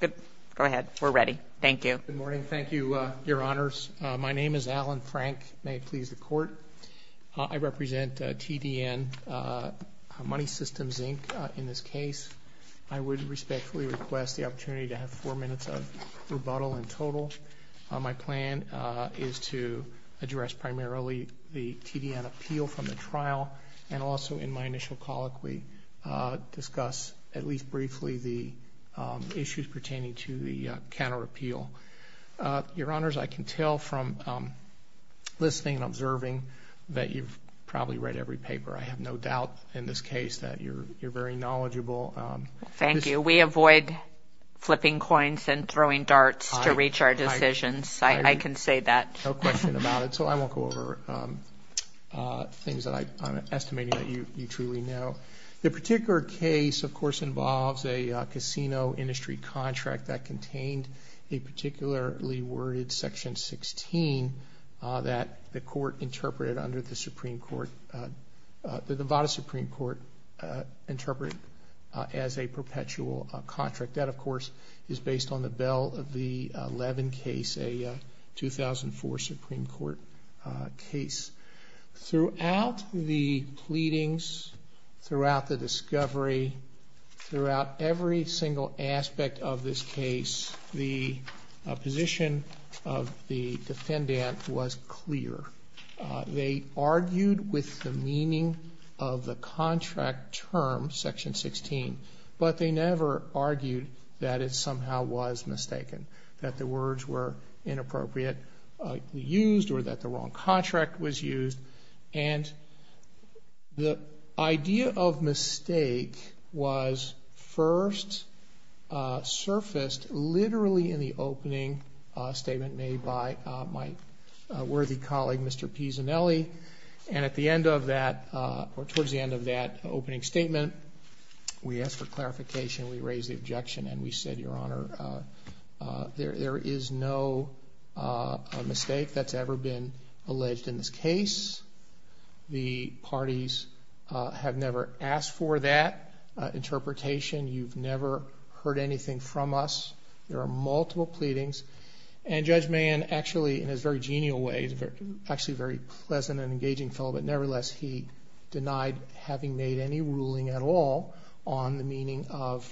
Go ahead. We're ready. Thank you. Good morning. Thank you, Your Honors. My name is Alan Frank. May it please the Court? I represent TDN Money Systems, Inc. in this case. I would respectfully request the opportunity to have four minutes of rebuttal in total. My plan is to address primarily the TDN appeal from the trial and also, in my initial colloquy, discuss at least briefly the issues pertaining to the counterappeal. Your Honors, I can tell from listening and observing that you've probably read every paper. I have no doubt in this case that you're very knowledgeable. Thank you. We avoid flipping coins and throwing darts to reach our decisions. I can say that. No question about it, so I won't go over things that I'm estimating that you truly know. The particular case, of course, involves a casino industry contract that contained a particularly worded Section 16 that the court interpreted under the Supreme Court, the Nevada Supreme Court interpreted as a perpetual contract. That, of course, is based on the Bell v. Levin case, a 2004 Supreme Court case. Throughout the pleadings, throughout the discovery, throughout every single aspect of this case, the position of the defendant was clear. They argued with the meaning of the contract term, Section 16, but they never argued that it somehow was mistaken, that the words were inappropriately used or that the wrong contract was used. The idea of mistake was first surfaced literally in the opening statement made by my worthy colleague, Mr. Pisanelli. Towards the end of that opening statement, we asked for clarification. We raised the objection, and we said, Your Honor, there is no mistake that's ever been alleged in this case. The parties have never asked for that interpretation. You've never heard anything from us. There are multiple pleadings. Judge Mahan, actually, in his very genial way, actually a very pleasant and engaging fellow, but nevertheless, he denied having made any ruling at all on the meaning of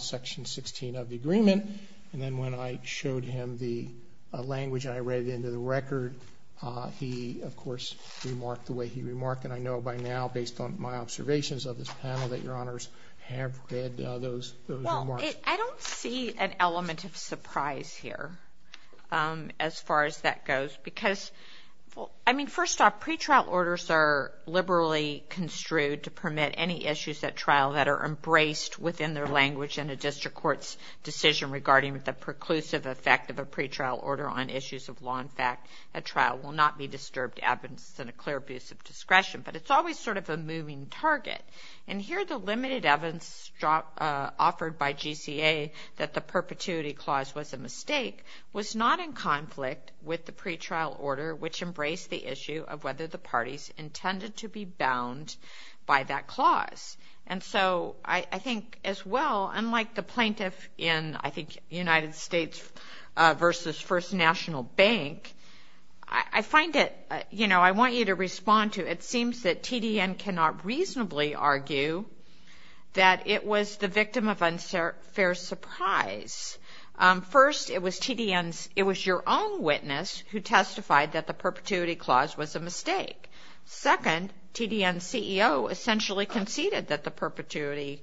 Section 16 of the agreement. Then when I showed him the language and I read it into the record, he, of course, remarked the way he remarked. I know by now, based on my observations of this panel, that Your Honors have read those remarks. I don't see an element of surprise here as far as that goes. First off, pretrial orders are liberally construed to permit any issues at trial that are embraced within their language in a district court's decision regarding the preclusive effect of a pretrial order on issues of law. In fact, a trial will not be disturbed. The evidence is in a clear abuse of discretion, but it's always sort of a moving target. Here, the limited evidence offered by GCA that the perpetuity clause was a mistake was not in conflict with the pretrial order, which embraced the issue of whether the parties intended to be bound by that clause. I think, as well, unlike the plaintiff in, I think, United States v. First National Bank, I find it, you know, I want you to respond to, it seems that TDN cannot reasonably argue that it was the victim of unfair surprise. First, it was TDN's, it was your own witness who testified that the perpetuity clause was a mistake. Second, TDN's CEO essentially conceded that the perpetuity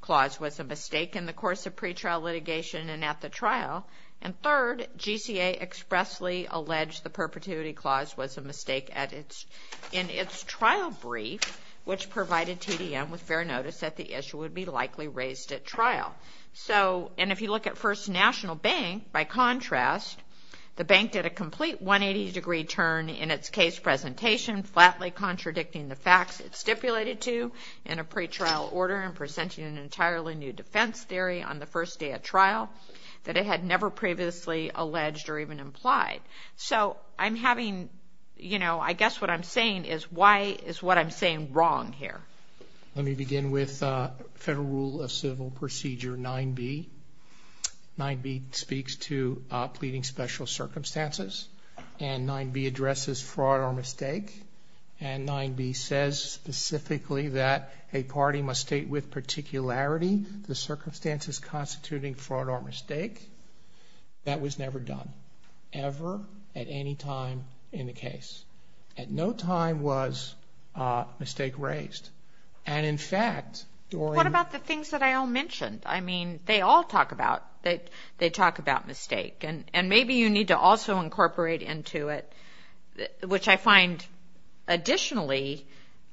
clause was a mistake in the course of pretrial litigation and at the trial. And third, GCA expressly alleged the perpetuity clause was a mistake in its trial brief, which provided TDN with fair notice that the issue would be likely raised at trial. So, and if you look at First National Bank, by contrast, the bank did a complete 180-degree turn in its case presentation, flatly contradicting the facts it stipulated to in a pretrial order and presenting an entirely new defense theory on the first day of trial that it had never previously alleged or even implied. So, I'm having, you know, I guess what I'm saying is why is what I'm saying wrong here? Let me begin with Federal Rule of Civil Procedure 9b. 9b speaks to pleading special circumstances and 9b addresses fraud or mistake and 9b says specifically that a party must state with particularity the circumstances constituting fraud or mistake that was never done, ever at any time in the case. At no time was mistake raised. And in fact, during- What about the things that I all mentioned? I mean, they all talk about, they talk about mistake and maybe you need to also incorporate into it, which I find additionally,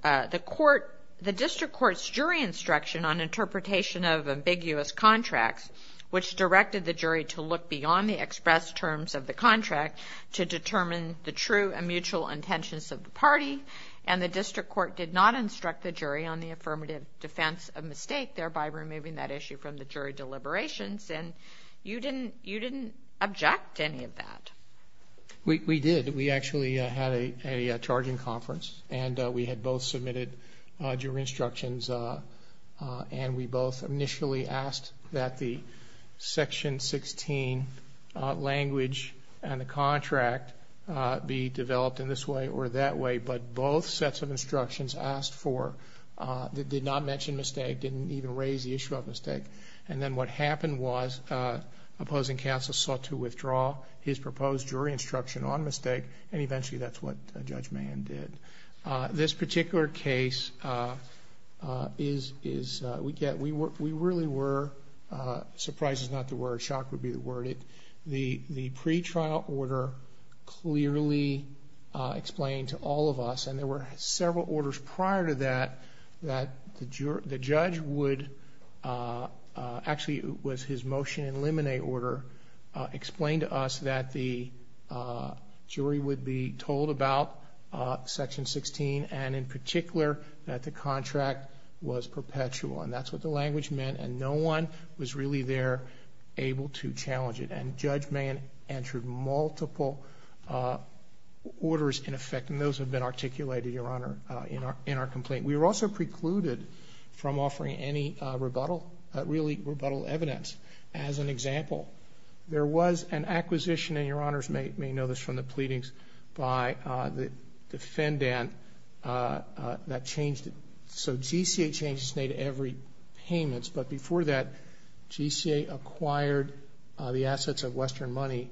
the District Court's jury instruction on interpretation of ambiguous contracts, which directed the jury to look beyond the expressed terms of the contract to determine the true and mutual intentions of the party and the District Court did not instruct the jury on the affirmative defense of mistake, thereby removing that issue from the jury deliberations, and you didn't object to any of that. We did. We actually had a charging conference and we had both submitted jury instructions and we both initially asked that the Section 16 language and the contract be developed in this way or that way, but both sets of instructions asked for, did not mention mistake, didn't even raise the issue of mistake. And then what happened was opposing counsel sought to withdraw his proposed jury instruction on mistake and eventually that's what Judge Mahan did. This particular case is- We really were- Surprise is not the word, shock would be the word. The pretrial order clearly explained to all of us, and there were several orders prior to that, that the judge would- Actually, it was his motion in limine order explained to us that the jury would be told about Section 16 and in particular that the contract was perpetual and that's what the language meant and no one was really there able to challenge it and Judge Mahan answered multiple orders in effect and those have been articulated, Your Honor, in our complaint. We were also precluded from offering any rebuttal, really rebuttal evidence as an example. There was an acquisition, and Your Honors may know this from the pleadings, by the defendant that changed it. So, GCA changed its name to Every Payments, but before that GCA acquired the assets of Western Money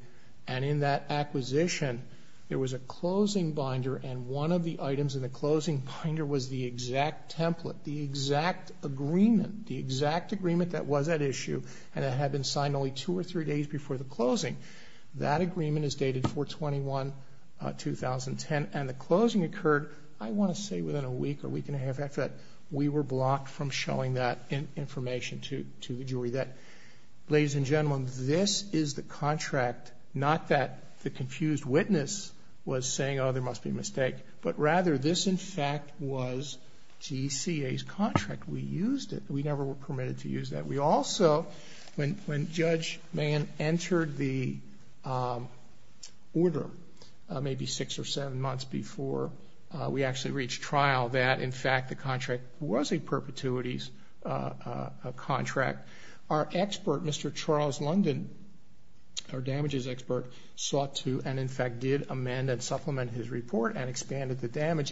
and in that acquisition there was a closing binder and one of the items in the closing binder was the exact template, the exact agreement, the exact agreement that was at issue and that had been signed only two or three days before the closing. That agreement is dated 4-21-2010 and the closing occurred, I want to say within a week or week and a half after that. We were blocked from showing that information to the jury. Ladies and gentlemen, this is the contract, not that the confused witness was saying, oh, there must be a mistake, but rather this, in fact, was GCA's contract. We used it. We never were permitted to use that. We also, when Judge Mann entered the order, maybe six or seven months before we actually reached trial, that, in fact, the contract was a perpetuities contract, our expert, Mr. Charles London, our damages expert, sought to and, in fact, did amend and supplement his report and expanded the damage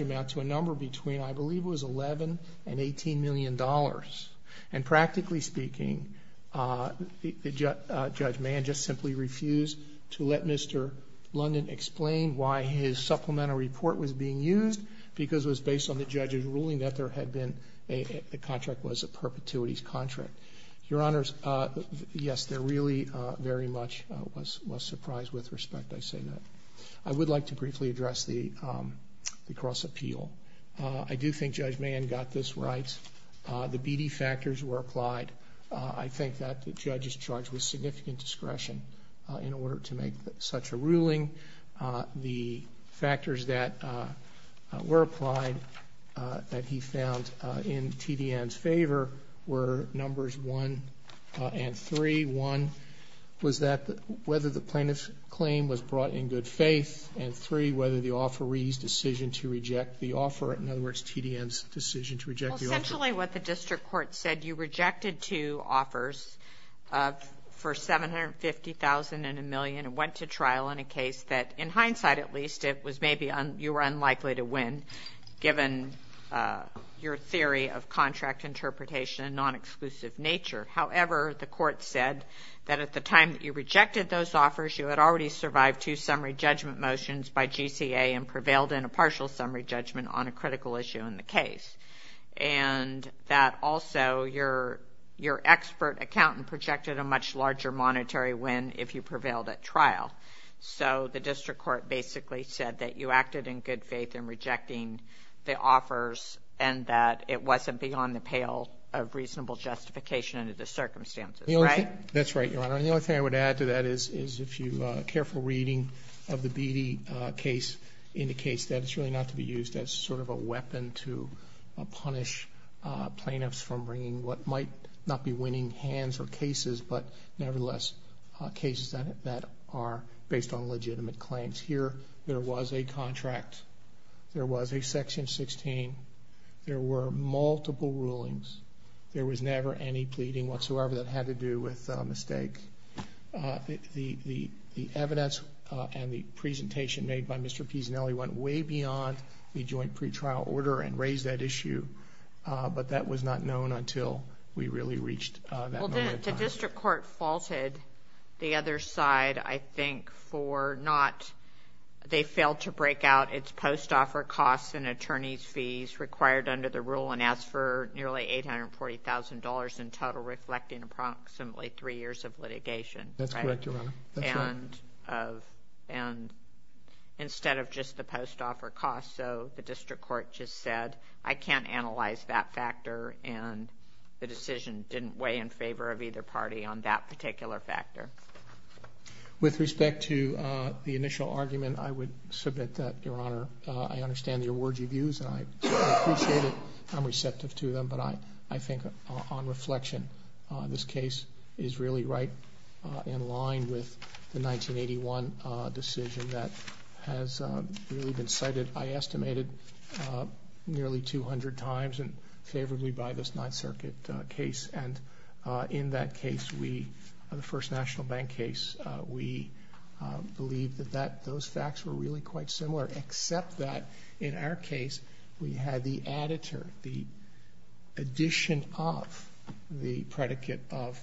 amount to a number between, I believe it was $11 and $18 million. Practically speaking, Judge Mann just simply refused to let Mr. London explain why his supplemental report was being used because it was based on the judge's ruling that the contract was a perpetuities contract. Your Honors, yes, there really very much was surprise with respect. I say that. I would like to briefly address the cross-appeal. I do think Judge Mann got this right. The BD factors were applied. I think that the judge is charged with significant discretion in order to make such a ruling. The factors that were applied that he found in TDN's favor were numbers one and three. One was that whether the plaintiff's claim was brought in good faith, and three, whether the offeree's decision to reject the offer, in other words TDN's decision to reject the offer. Essentially what the district court said, you rejected two offers for $750,000 and $1 million and went to trial in a case that, in hindsight at least, it was maybe you were unlikely to win given your theory of contract interpretation and non-exclusive nature. However, the court said that at the time that you rejected those offers, you had already survived two summary judgment motions by GCA and prevailed in a partial summary judgment on a critical issue in the case, and that also your expert accountant projected a much larger monetary win if you prevailed at trial. So the district court basically said that you acted in good faith in rejecting the offers and that it wasn't beyond the pale of reasonable justification under the circumstances, right? That's right, Your Honor. The only thing I would add to that is if you careful reading of the Beattie case indicates that it's really not to be used as sort of a weapon to punish plaintiffs from bringing what might not be winning hands or cases, but nevertheless cases that are based on legitimate claims. Here there was a contract. There was a Section 16. There were multiple rulings. There was never any pleading whatsoever that had to do with a mistake. The evidence and the presentation made by Mr. Pisanelli went way beyond the joint pretrial order and raised that issue, The district court faulted the other side, I think, for not they failed to break out its post-offer costs and attorney's fees required under the rule and asked for nearly $840,000 in total reflecting approximately three years of litigation. That's correct, Your Honor. And instead of just the post-offer costs, so the district court just said I can't analyze that factor and the decision didn't weigh in favor of either party on that particular factor. With respect to the initial argument, I would submit that, Your Honor, I understand the words you've used and I appreciate it. I'm receptive to them, but I think on reflection this case is really right in line with the 1981 decision that has really been cited, I estimated, nearly 200 times that wasn't favorably by this Ninth Circuit case. And in that case, the first national bank case, we believe that those facts were really quite similar except that in our case we had the editor, the addition of the predicate of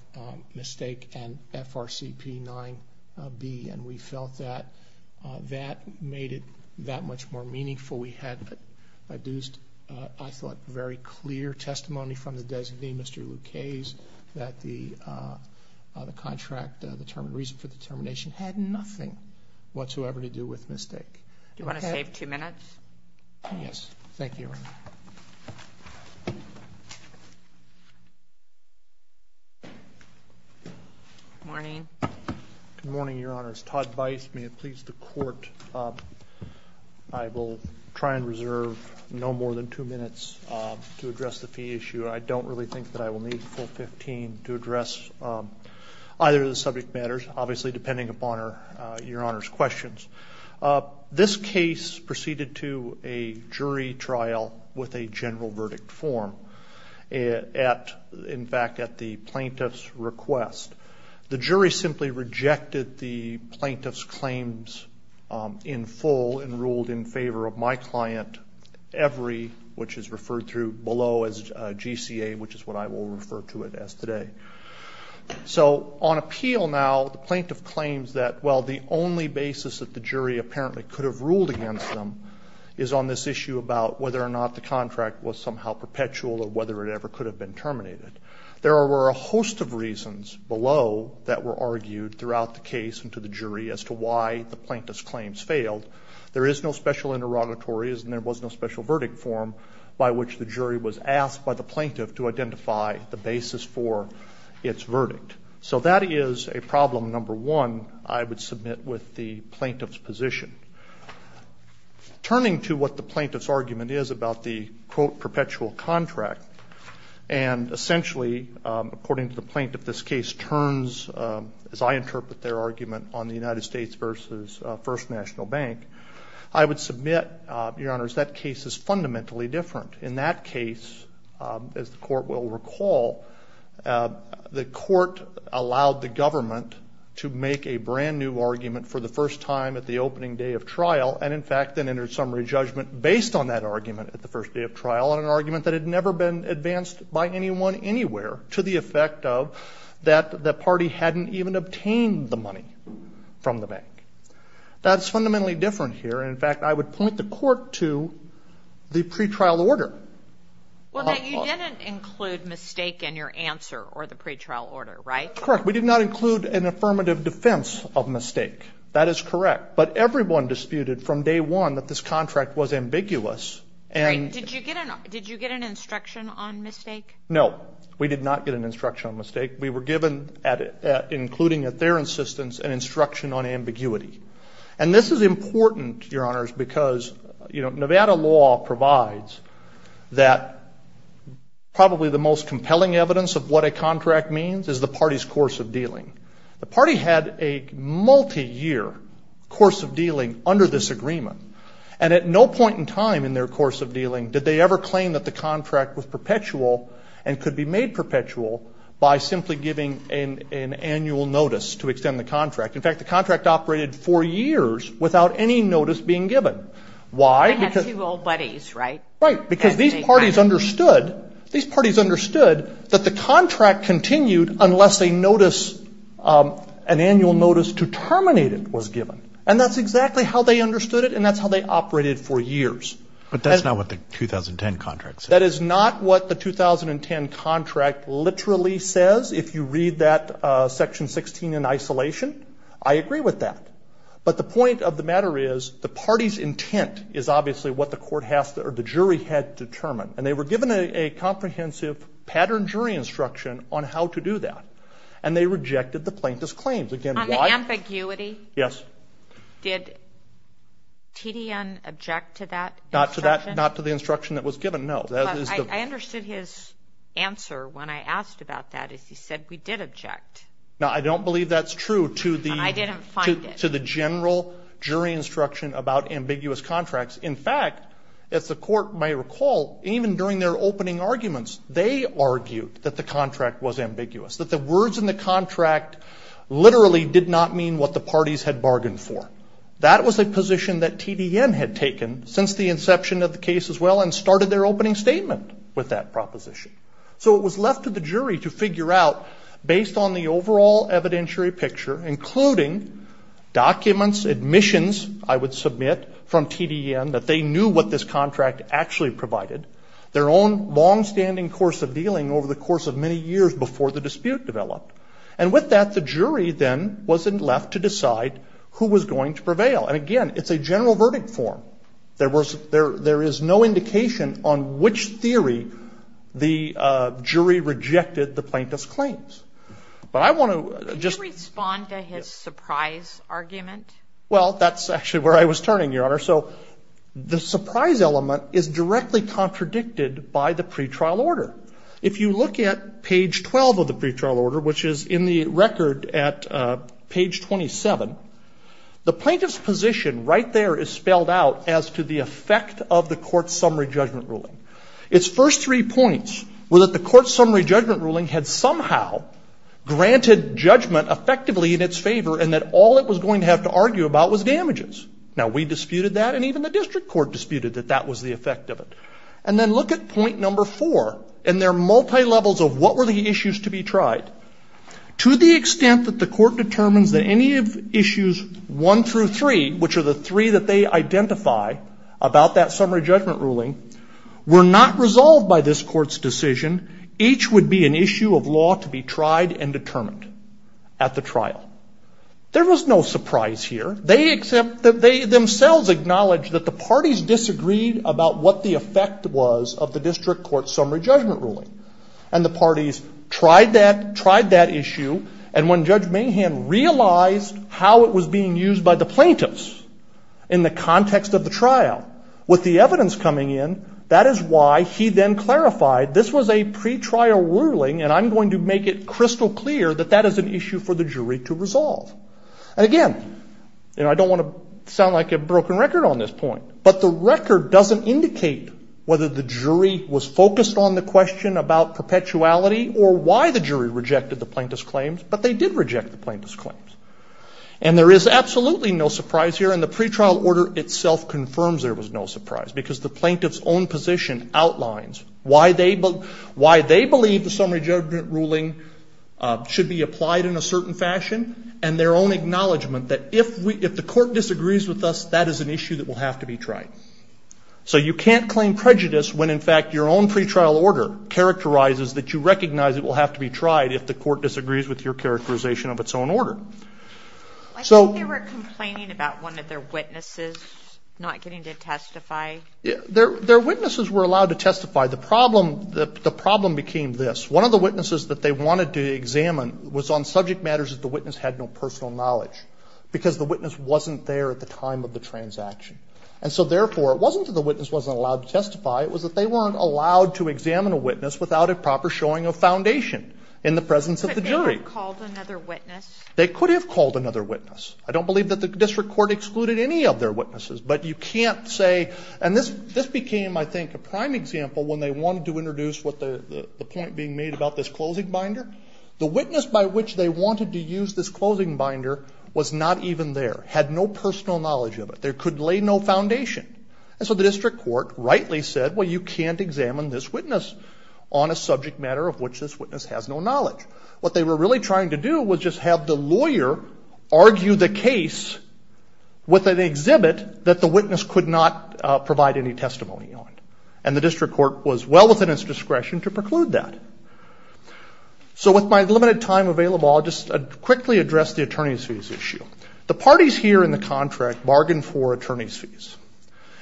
mistake and FRCP 9B and we felt that that made it that much more meaningful. We had, I thought, very clear testimony from the designee, Mr. Lucchese, that the contract reason for the termination had nothing whatsoever to do with mistake. Do you want to save two minutes? Yes. Thank you, Your Honor. Good morning. Good morning, Your Honors. Todd Bice, may it please the Court, I will try and reserve no more than two minutes to address the fee issue. I don't really think that I will need a full 15 to address either of the subject matters, obviously depending upon Your Honor's questions. This case proceeded to a jury trial with a general verdict form, in fact, at the plaintiff's request. The jury simply rejected the plaintiff's claims in full and ruled in favor of my client every, which is referred to below as GCA, which is what I will refer to it as today. So on appeal now, the plaintiff claims that, well, the only basis that the jury apparently could have ruled against them is on this issue about whether or not the contract was somehow perpetual or whether it ever could have been terminated. There were a host of reasons below that were argued throughout the case and to the jury as to why the plaintiff's claims failed. There is no special interrogatory, and there was no special verdict form by which the jury was asked by the plaintiff to identify the basis for its verdict. So that is a problem, number one, I would submit with the plaintiff's position. Turning to what the plaintiff's argument is about the, quote, essentially, according to the plaintiff, this case turns, as I interpret their argument, on the United States versus First National Bank. I would submit, Your Honors, that case is fundamentally different. In that case, as the court will recall, the court allowed the government to make a brand-new argument for the first time at the opening day of trial and, in fact, then entered summary judgment based on that argument at the first day of trial in an argument that had never been advanced by anyone anywhere to the effect of that the party hadn't even obtained the money from the bank. That's fundamentally different here. In fact, I would point the court to the pretrial order. Well, you didn't include mistake in your answer or the pretrial order, right? Correct. We did not include an affirmative defense of mistake. That is correct. But everyone disputed from day one that this contract was ambiguous. Did you get an instruction on mistake? No, we did not get an instruction on mistake. We were given, including at their insistence, an instruction on ambiguity. And this is important, Your Honors, because Nevada law provides that probably the most compelling evidence of what a contract means is the party's course of dealing. The party had a multi-year course of dealing under this agreement, and at no point in time in their course of dealing did they ever claim that the contract was perpetual and could be made perpetual by simply giving an annual notice to extend the contract. In fact, the contract operated for years without any notice being given. Why? They had two old buddies, right? Right, because these parties understood that the contract continued unless a notice, an annual notice to terminate it was given. And that's exactly how they understood it, and that's how they operated for years. But that's not what the 2010 contract says. That is not what the 2010 contract literally says. If you read that Section 16 in isolation, I agree with that. But the point of the matter is the party's intent is obviously what the jury had determined. And they were given a comprehensive pattern jury instruction on how to do that. And they rejected the plaintiff's claims. Again, why? On the ambiguity? Yes. Did TDN object to that instruction? Not to the instruction that was given, no. But I understood his answer when I asked about that is he said, we did object. Now, I don't believe that's true to the general jury instruction about ambiguous contracts. In fact, as the court may recall, even during their opening arguments, they argued that the contract was ambiguous, that the words in the contract literally did not mean what the parties had bargained for. That was a position that TDN had taken since the inception of the case as well and started their opening statement with that proposition. So it was left to the jury to figure out based on the overall evidentiary picture, including documents, admissions, I would submit, from TDN, that they knew what this contract actually provided, their own longstanding course of dealing over the course of many years before the dispute developed. And with that, the jury then was left to decide who was going to prevail. And again, it's a general verdict form. There is no indication on which theory the jury rejected the plaintiff's claims. But I want to just – Can you respond to his surprise argument? Well, that's actually where I was turning, Your Honor. So the surprise element is directly contradicted by the pretrial order. If you look at page 12 of the pretrial order, which is in the record at page 27, the plaintiff's position right there is spelled out as to the effect of the court's summary judgment ruling. Its first three points were that the court's summary judgment ruling had somehow granted judgment effectively in its favor and that all it was going to have to argue about was damages. Now, we disputed that and even the district court disputed that that was the effect of it. And then look at point number four. And there are multilevels of what were the issues to be tried. To the extent that the court determines that any of issues one through three, which are the three that they identify about that summary judgment ruling, were not resolved by this court's decision, each would be an issue of law to be tried and determined at the trial. There was no surprise here. They themselves acknowledged that the parties disagreed about what the effect was of the district court's summary judgment ruling. And the parties tried that issue and when Judge Mahan realized how it was being used by the plaintiffs in the context of the trial with the evidence coming in, that is why he then clarified this was a pretrial ruling and I'm going to make it crystal clear that that is an issue for the jury to resolve. And again, I don't want to sound like a broken record on this point, but the jury was focused on the question about perpetuality or why the jury rejected the plaintiff's claims, but they did reject the plaintiff's claims. And there is absolutely no surprise here and the pretrial order itself confirms there was no surprise because the plaintiff's own position outlines why they believe the summary judgment ruling should be applied in a certain fashion and their own acknowledgement that if the court disagrees with us, that is an issue that will have to be tried. So you can't claim prejudice when in fact your own pretrial order characterizes that you recognize it will have to be tried if the court disagrees with your characterization of its own order. I think they were complaining about one of their witnesses not getting to testify. Their witnesses were allowed to testify. The problem became this. One of the witnesses that they wanted to examine was on subject matters that the witness had no personal knowledge because the witness wasn't there at the time of the transaction. And so therefore it wasn't that the witness wasn't allowed to testify. It was that they weren't allowed to examine a witness without a proper showing of foundation in the presence of the jury. But they could have called another witness. They could have called another witness. I don't believe that the district court excluded any of their witnesses, but you can't say, and this became, I think, a prime example when they wanted to introduce the point being made about this closing binder. The witness by which they wanted to use this closing binder was not even there, had no personal knowledge of it. There could lay no foundation. And so the district court rightly said, well, you can't examine this witness on a subject matter of which this witness has no knowledge. What they were really trying to do was just have the lawyer argue the case with an exhibit that the witness could not provide any testimony on. And the district court was well within its discretion to preclude that. So with my limited time available, I'll just quickly address the attorney's fees issue. The parties here in the contract bargained for attorney's fees.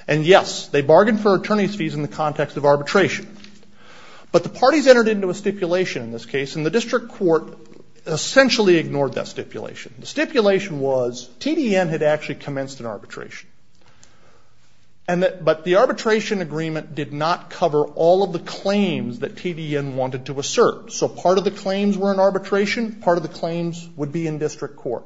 And, yes, they bargained for attorney's fees in the context of arbitration. But the parties entered into a stipulation in this case, and the district court essentially ignored that stipulation. The stipulation was TDN had actually commenced an arbitration. But the arbitration agreement did not cover all of the claims that TDN wanted to assert. So part of the claims were in arbitration. Part of the claims would be in district court.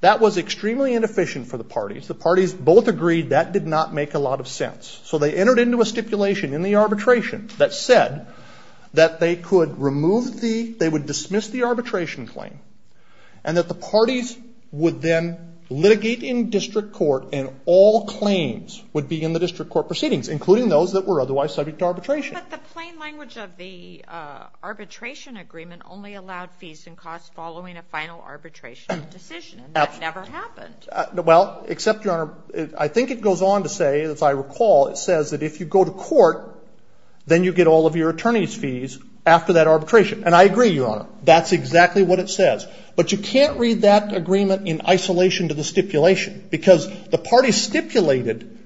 That was extremely inefficient for the parties. The parties both agreed that did not make a lot of sense. So they entered into a stipulation in the arbitration that said that they could remove the ‑‑ they would dismiss the arbitration claim, and that the parties would then litigate in district court, and all claims would be in the district court proceedings, including those that were otherwise subject to arbitration. But the plain language of the arbitration agreement only allowed fees and costs following a final arbitration decision, and that never happened. Well, except, Your Honor, I think it goes on to say, as I recall, it says that if you go to court, then you get all of your attorney's fees after that arbitration. And I agree, Your Honor. That's exactly what it says. But you can't read that agreement in isolation to the stipulation, because the parties stipulated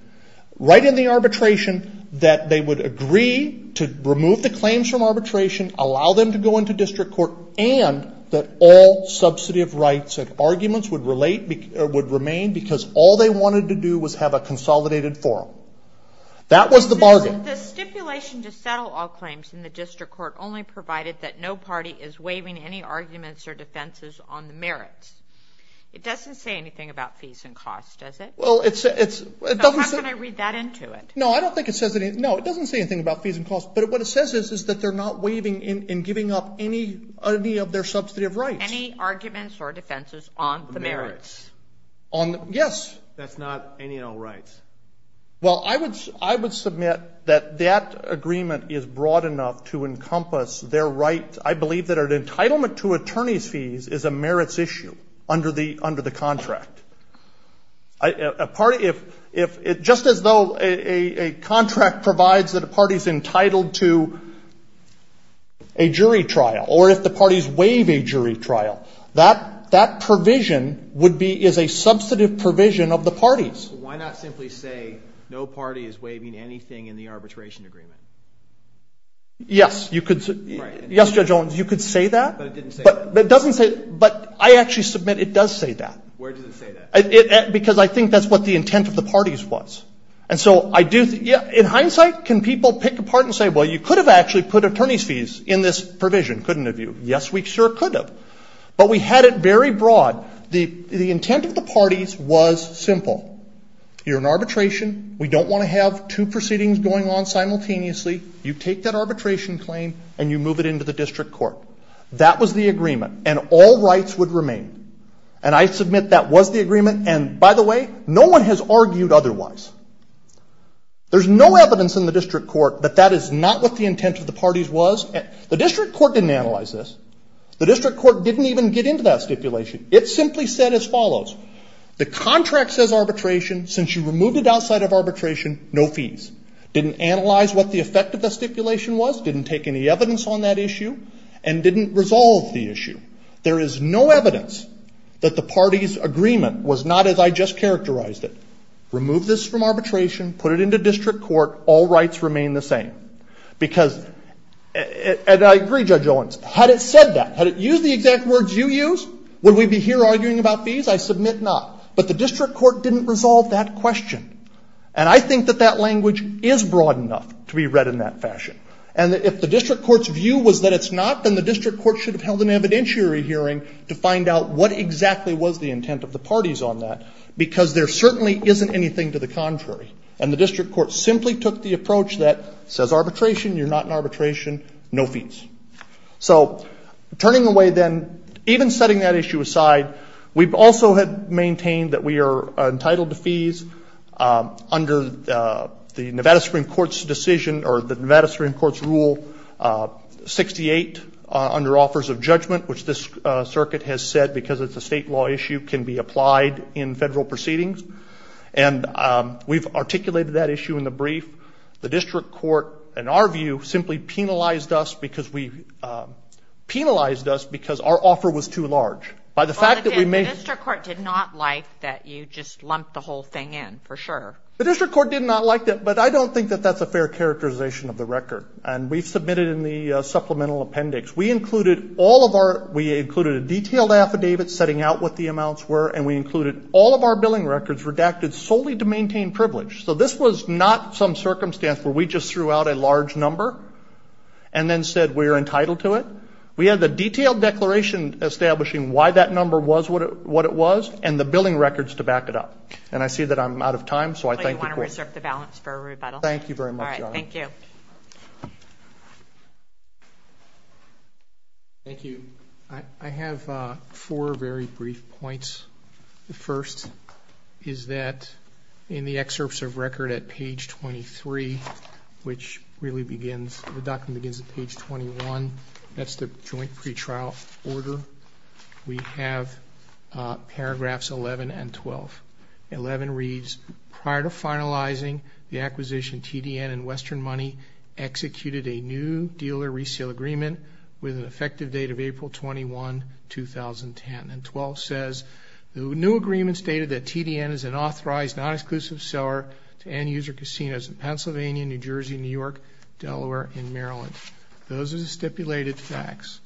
right in the arbitration that they would agree to remove the claims from arbitration, allow them to go into district court, and that all subsidy of rights and arguments would remain because all they wanted to do was have a consolidated forum. That was the bargain. The stipulation to settle all claims in the district court only provided that no party is waiving any arguments or defenses on the merits. It doesn't say anything about fees and costs, does it? Well, it's ‑‑ So how can I read that into it? No, I don't think it says anything. No, it doesn't say anything about fees and costs. But what it says is that they're not waiving and giving up any of their substantive rights. Any arguments or defenses on the merits? Yes. That's not any and all rights. Well, I would submit that that agreement is broad enough to encompass their rights. I believe that an entitlement to attorney's fees is a merits issue under the contract. Just as though a contract provides that a party is entitled to a jury trial or if the parties waive a jury trial, that provision is a substantive provision of the parties. Why not simply say no party is waiving anything in the arbitration agreement? Yes. Yes, Judge Owens, you could say that. But it didn't say that. But I actually submit it does say that. Where does it say that? Because I think that's what the intent of the parties was. And so I do ‑‑ in hindsight, can people pick apart and say, well, you could have actually put attorney's fees in this provision, couldn't have you? Yes, we sure could have. But we had it very broad. The intent of the parties was simple. You're in arbitration. We don't want to have two proceedings going on simultaneously. You take that arbitration claim and you move it into the district court. That was the agreement. And all rights would remain. And I submit that was the agreement. And, by the way, no one has argued otherwise. There's no evidence in the district court that that is not what the intent of the parties was. The district court didn't analyze this. The district court didn't even get into that stipulation. It simply said as follows. The contract says arbitration. Since you removed it outside of arbitration, no fees. Didn't analyze what the effect of the stipulation was. Didn't take any evidence on that issue. And didn't resolve the issue. There is no evidence that the parties' agreement was not as I just characterized it. Remove this from arbitration. Put it into district court. All rights remain the same. Because, and I agree, Judge Owens, had it said that, had it used the exact words you used, would we be here arguing about fees? I submit not. But the district court didn't resolve that question. And I think that that language is broad enough to be read in that fashion. And if the district court's view was that it's not, then the district court should have held an evidentiary hearing to find out what exactly was the intent of the parties on that. Because there certainly isn't anything to the contrary. And the district court simply took the approach that says arbitration. You're not in arbitration. No fees. So turning away then, even setting that issue aside, we also had maintained that we are entitled to fees under the Nevada Supreme Court's decision or the Nevada Supreme Court's rule 68 under offers of judgment, which this circuit has said because it's a state law issue can be applied in federal proceedings. And we've articulated that issue in the brief. The district court, in our view, simply penalized us because our offer was too large. The district court did not like that you just lumped the whole thing in, for sure. The district court did not like that, but I don't think that that's a fair characterization of the record. And we've submitted in the supplemental appendix, we included all of our, we included a detailed affidavit setting out what the amounts were, and we included all of our billing records redacted solely to maintain privilege. So this was not some circumstance where we just threw out a large number and then said we're entitled to it. We had the detailed declaration establishing why that number was what it was and the billing records to back it up. And I see that I'm out of time, so I thank the court. So you want to reserve the balance for a rebuttal? Thank you very much, Your Honor. All right, thank you. Thank you. I have four very brief points. The first is that in the excerpts of record at page 23, which really begins, the document begins at page 21, that's the joint pretrial order, we have paragraphs 11 and 12. 11 reads, prior to finalizing the acquisition, TDN and Western Money executed a new dealer resale agreement with an effective date of April 21, 2010. And 12 says, the new agreement stated that TDN is an authorized non-exclusive seller to end-user casinos in Pennsylvania, New Jersey, New York, Delaware, and Maryland. Those are the stipulated facts.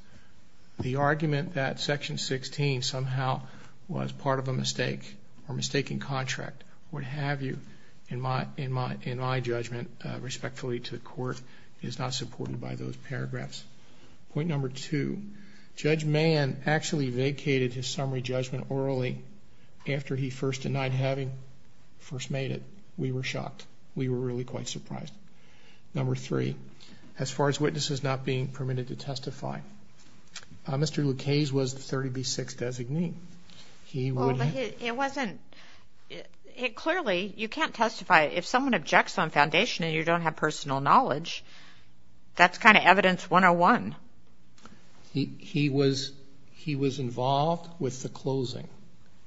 The argument that section 16 somehow was part of a mistake or mistaking contract or what have you, in my judgment, respectfully to the court, is not supported by those paragraphs. Point number two, Judge Mann actually vacated his summary judgment orally after he first denied having first made it. We were shocked. We were really quite surprised. Number three, as far as witnesses not being permitted to testify, Mr. Lucchese was the 30B6 designee. He would have- Well, but it wasn't, it clearly, you can't testify. If someone objects on foundation and you don't have personal knowledge, that's kind of evidence 101. He was involved with the closing.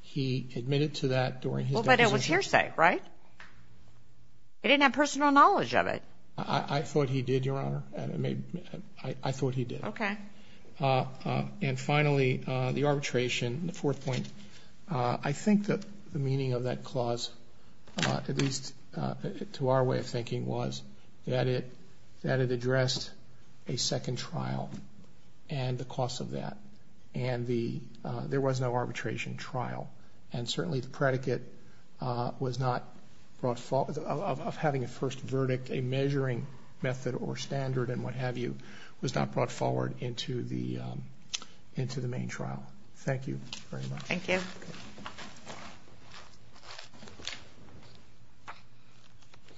He admitted to that during his deposition. Well, but it was hearsay, right? He didn't have personal knowledge of it. I thought he did, Your Honor. I thought he did. Okay. And finally, the arbitration, the fourth point. I think that the meaning of that clause, at least to our way of thinking, was that it addressed a second trial and the cost of that, and there was no arbitration trial. And certainly the predicate of having a first verdict, a measuring method or standard and what have you, was not brought forward into the main trial. Thank you very much. Thank you.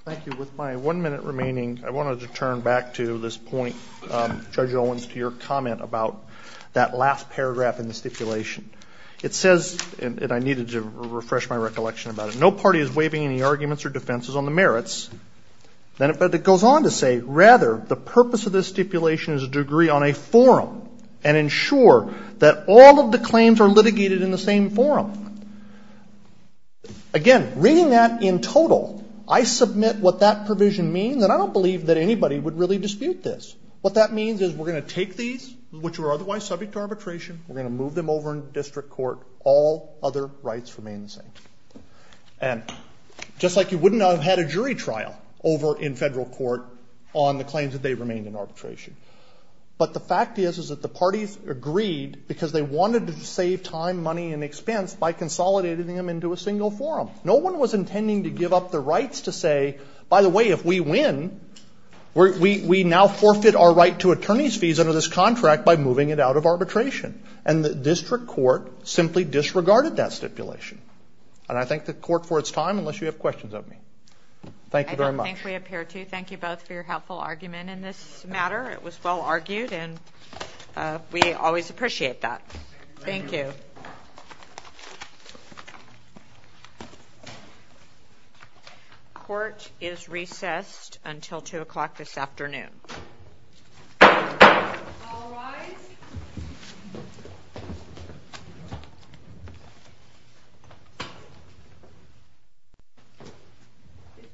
Thank you. With my one minute remaining, I wanted to turn back to this point, Judge Owens, to your comment about that last paragraph in the stipulation. It says, and I needed to refresh my recollection about it, no party is waiving any arguments or defenses on the merits. Then it goes on to say, rather, the purpose of this stipulation is to agree on a forum and ensure that all of the claims are litigated in the same forum. Again, reading that in total, I submit what that provision means, and I don't believe that anybody would really dispute this. What that means is we're going to take these, which were otherwise subject to arbitration, we're going to move them over into district court, all other rights remain the same. And just like you wouldn't have had a jury trial over in federal court on the claims that they remained in arbitration. But the fact is, is that the parties agreed because they wanted to save time, money, and expense by consolidating them into a single forum. No one was intending to give up the rights to say, by the way, if we win, we now forfeit our right to attorney's fees under this contract by moving it out of arbitration. And the district court simply disregarded that stipulation. And I thank the court for its time, unless you have questions of me. Thank you very much. I don't think we appear to. Thank you both for your helpful argument in this matter. It was well argued, and we always appreciate that. Thank you. Thank you. Court is recessed until 2 o'clock this afternoon. All rise.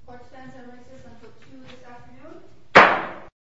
Court is recessed until 2 this afternoon.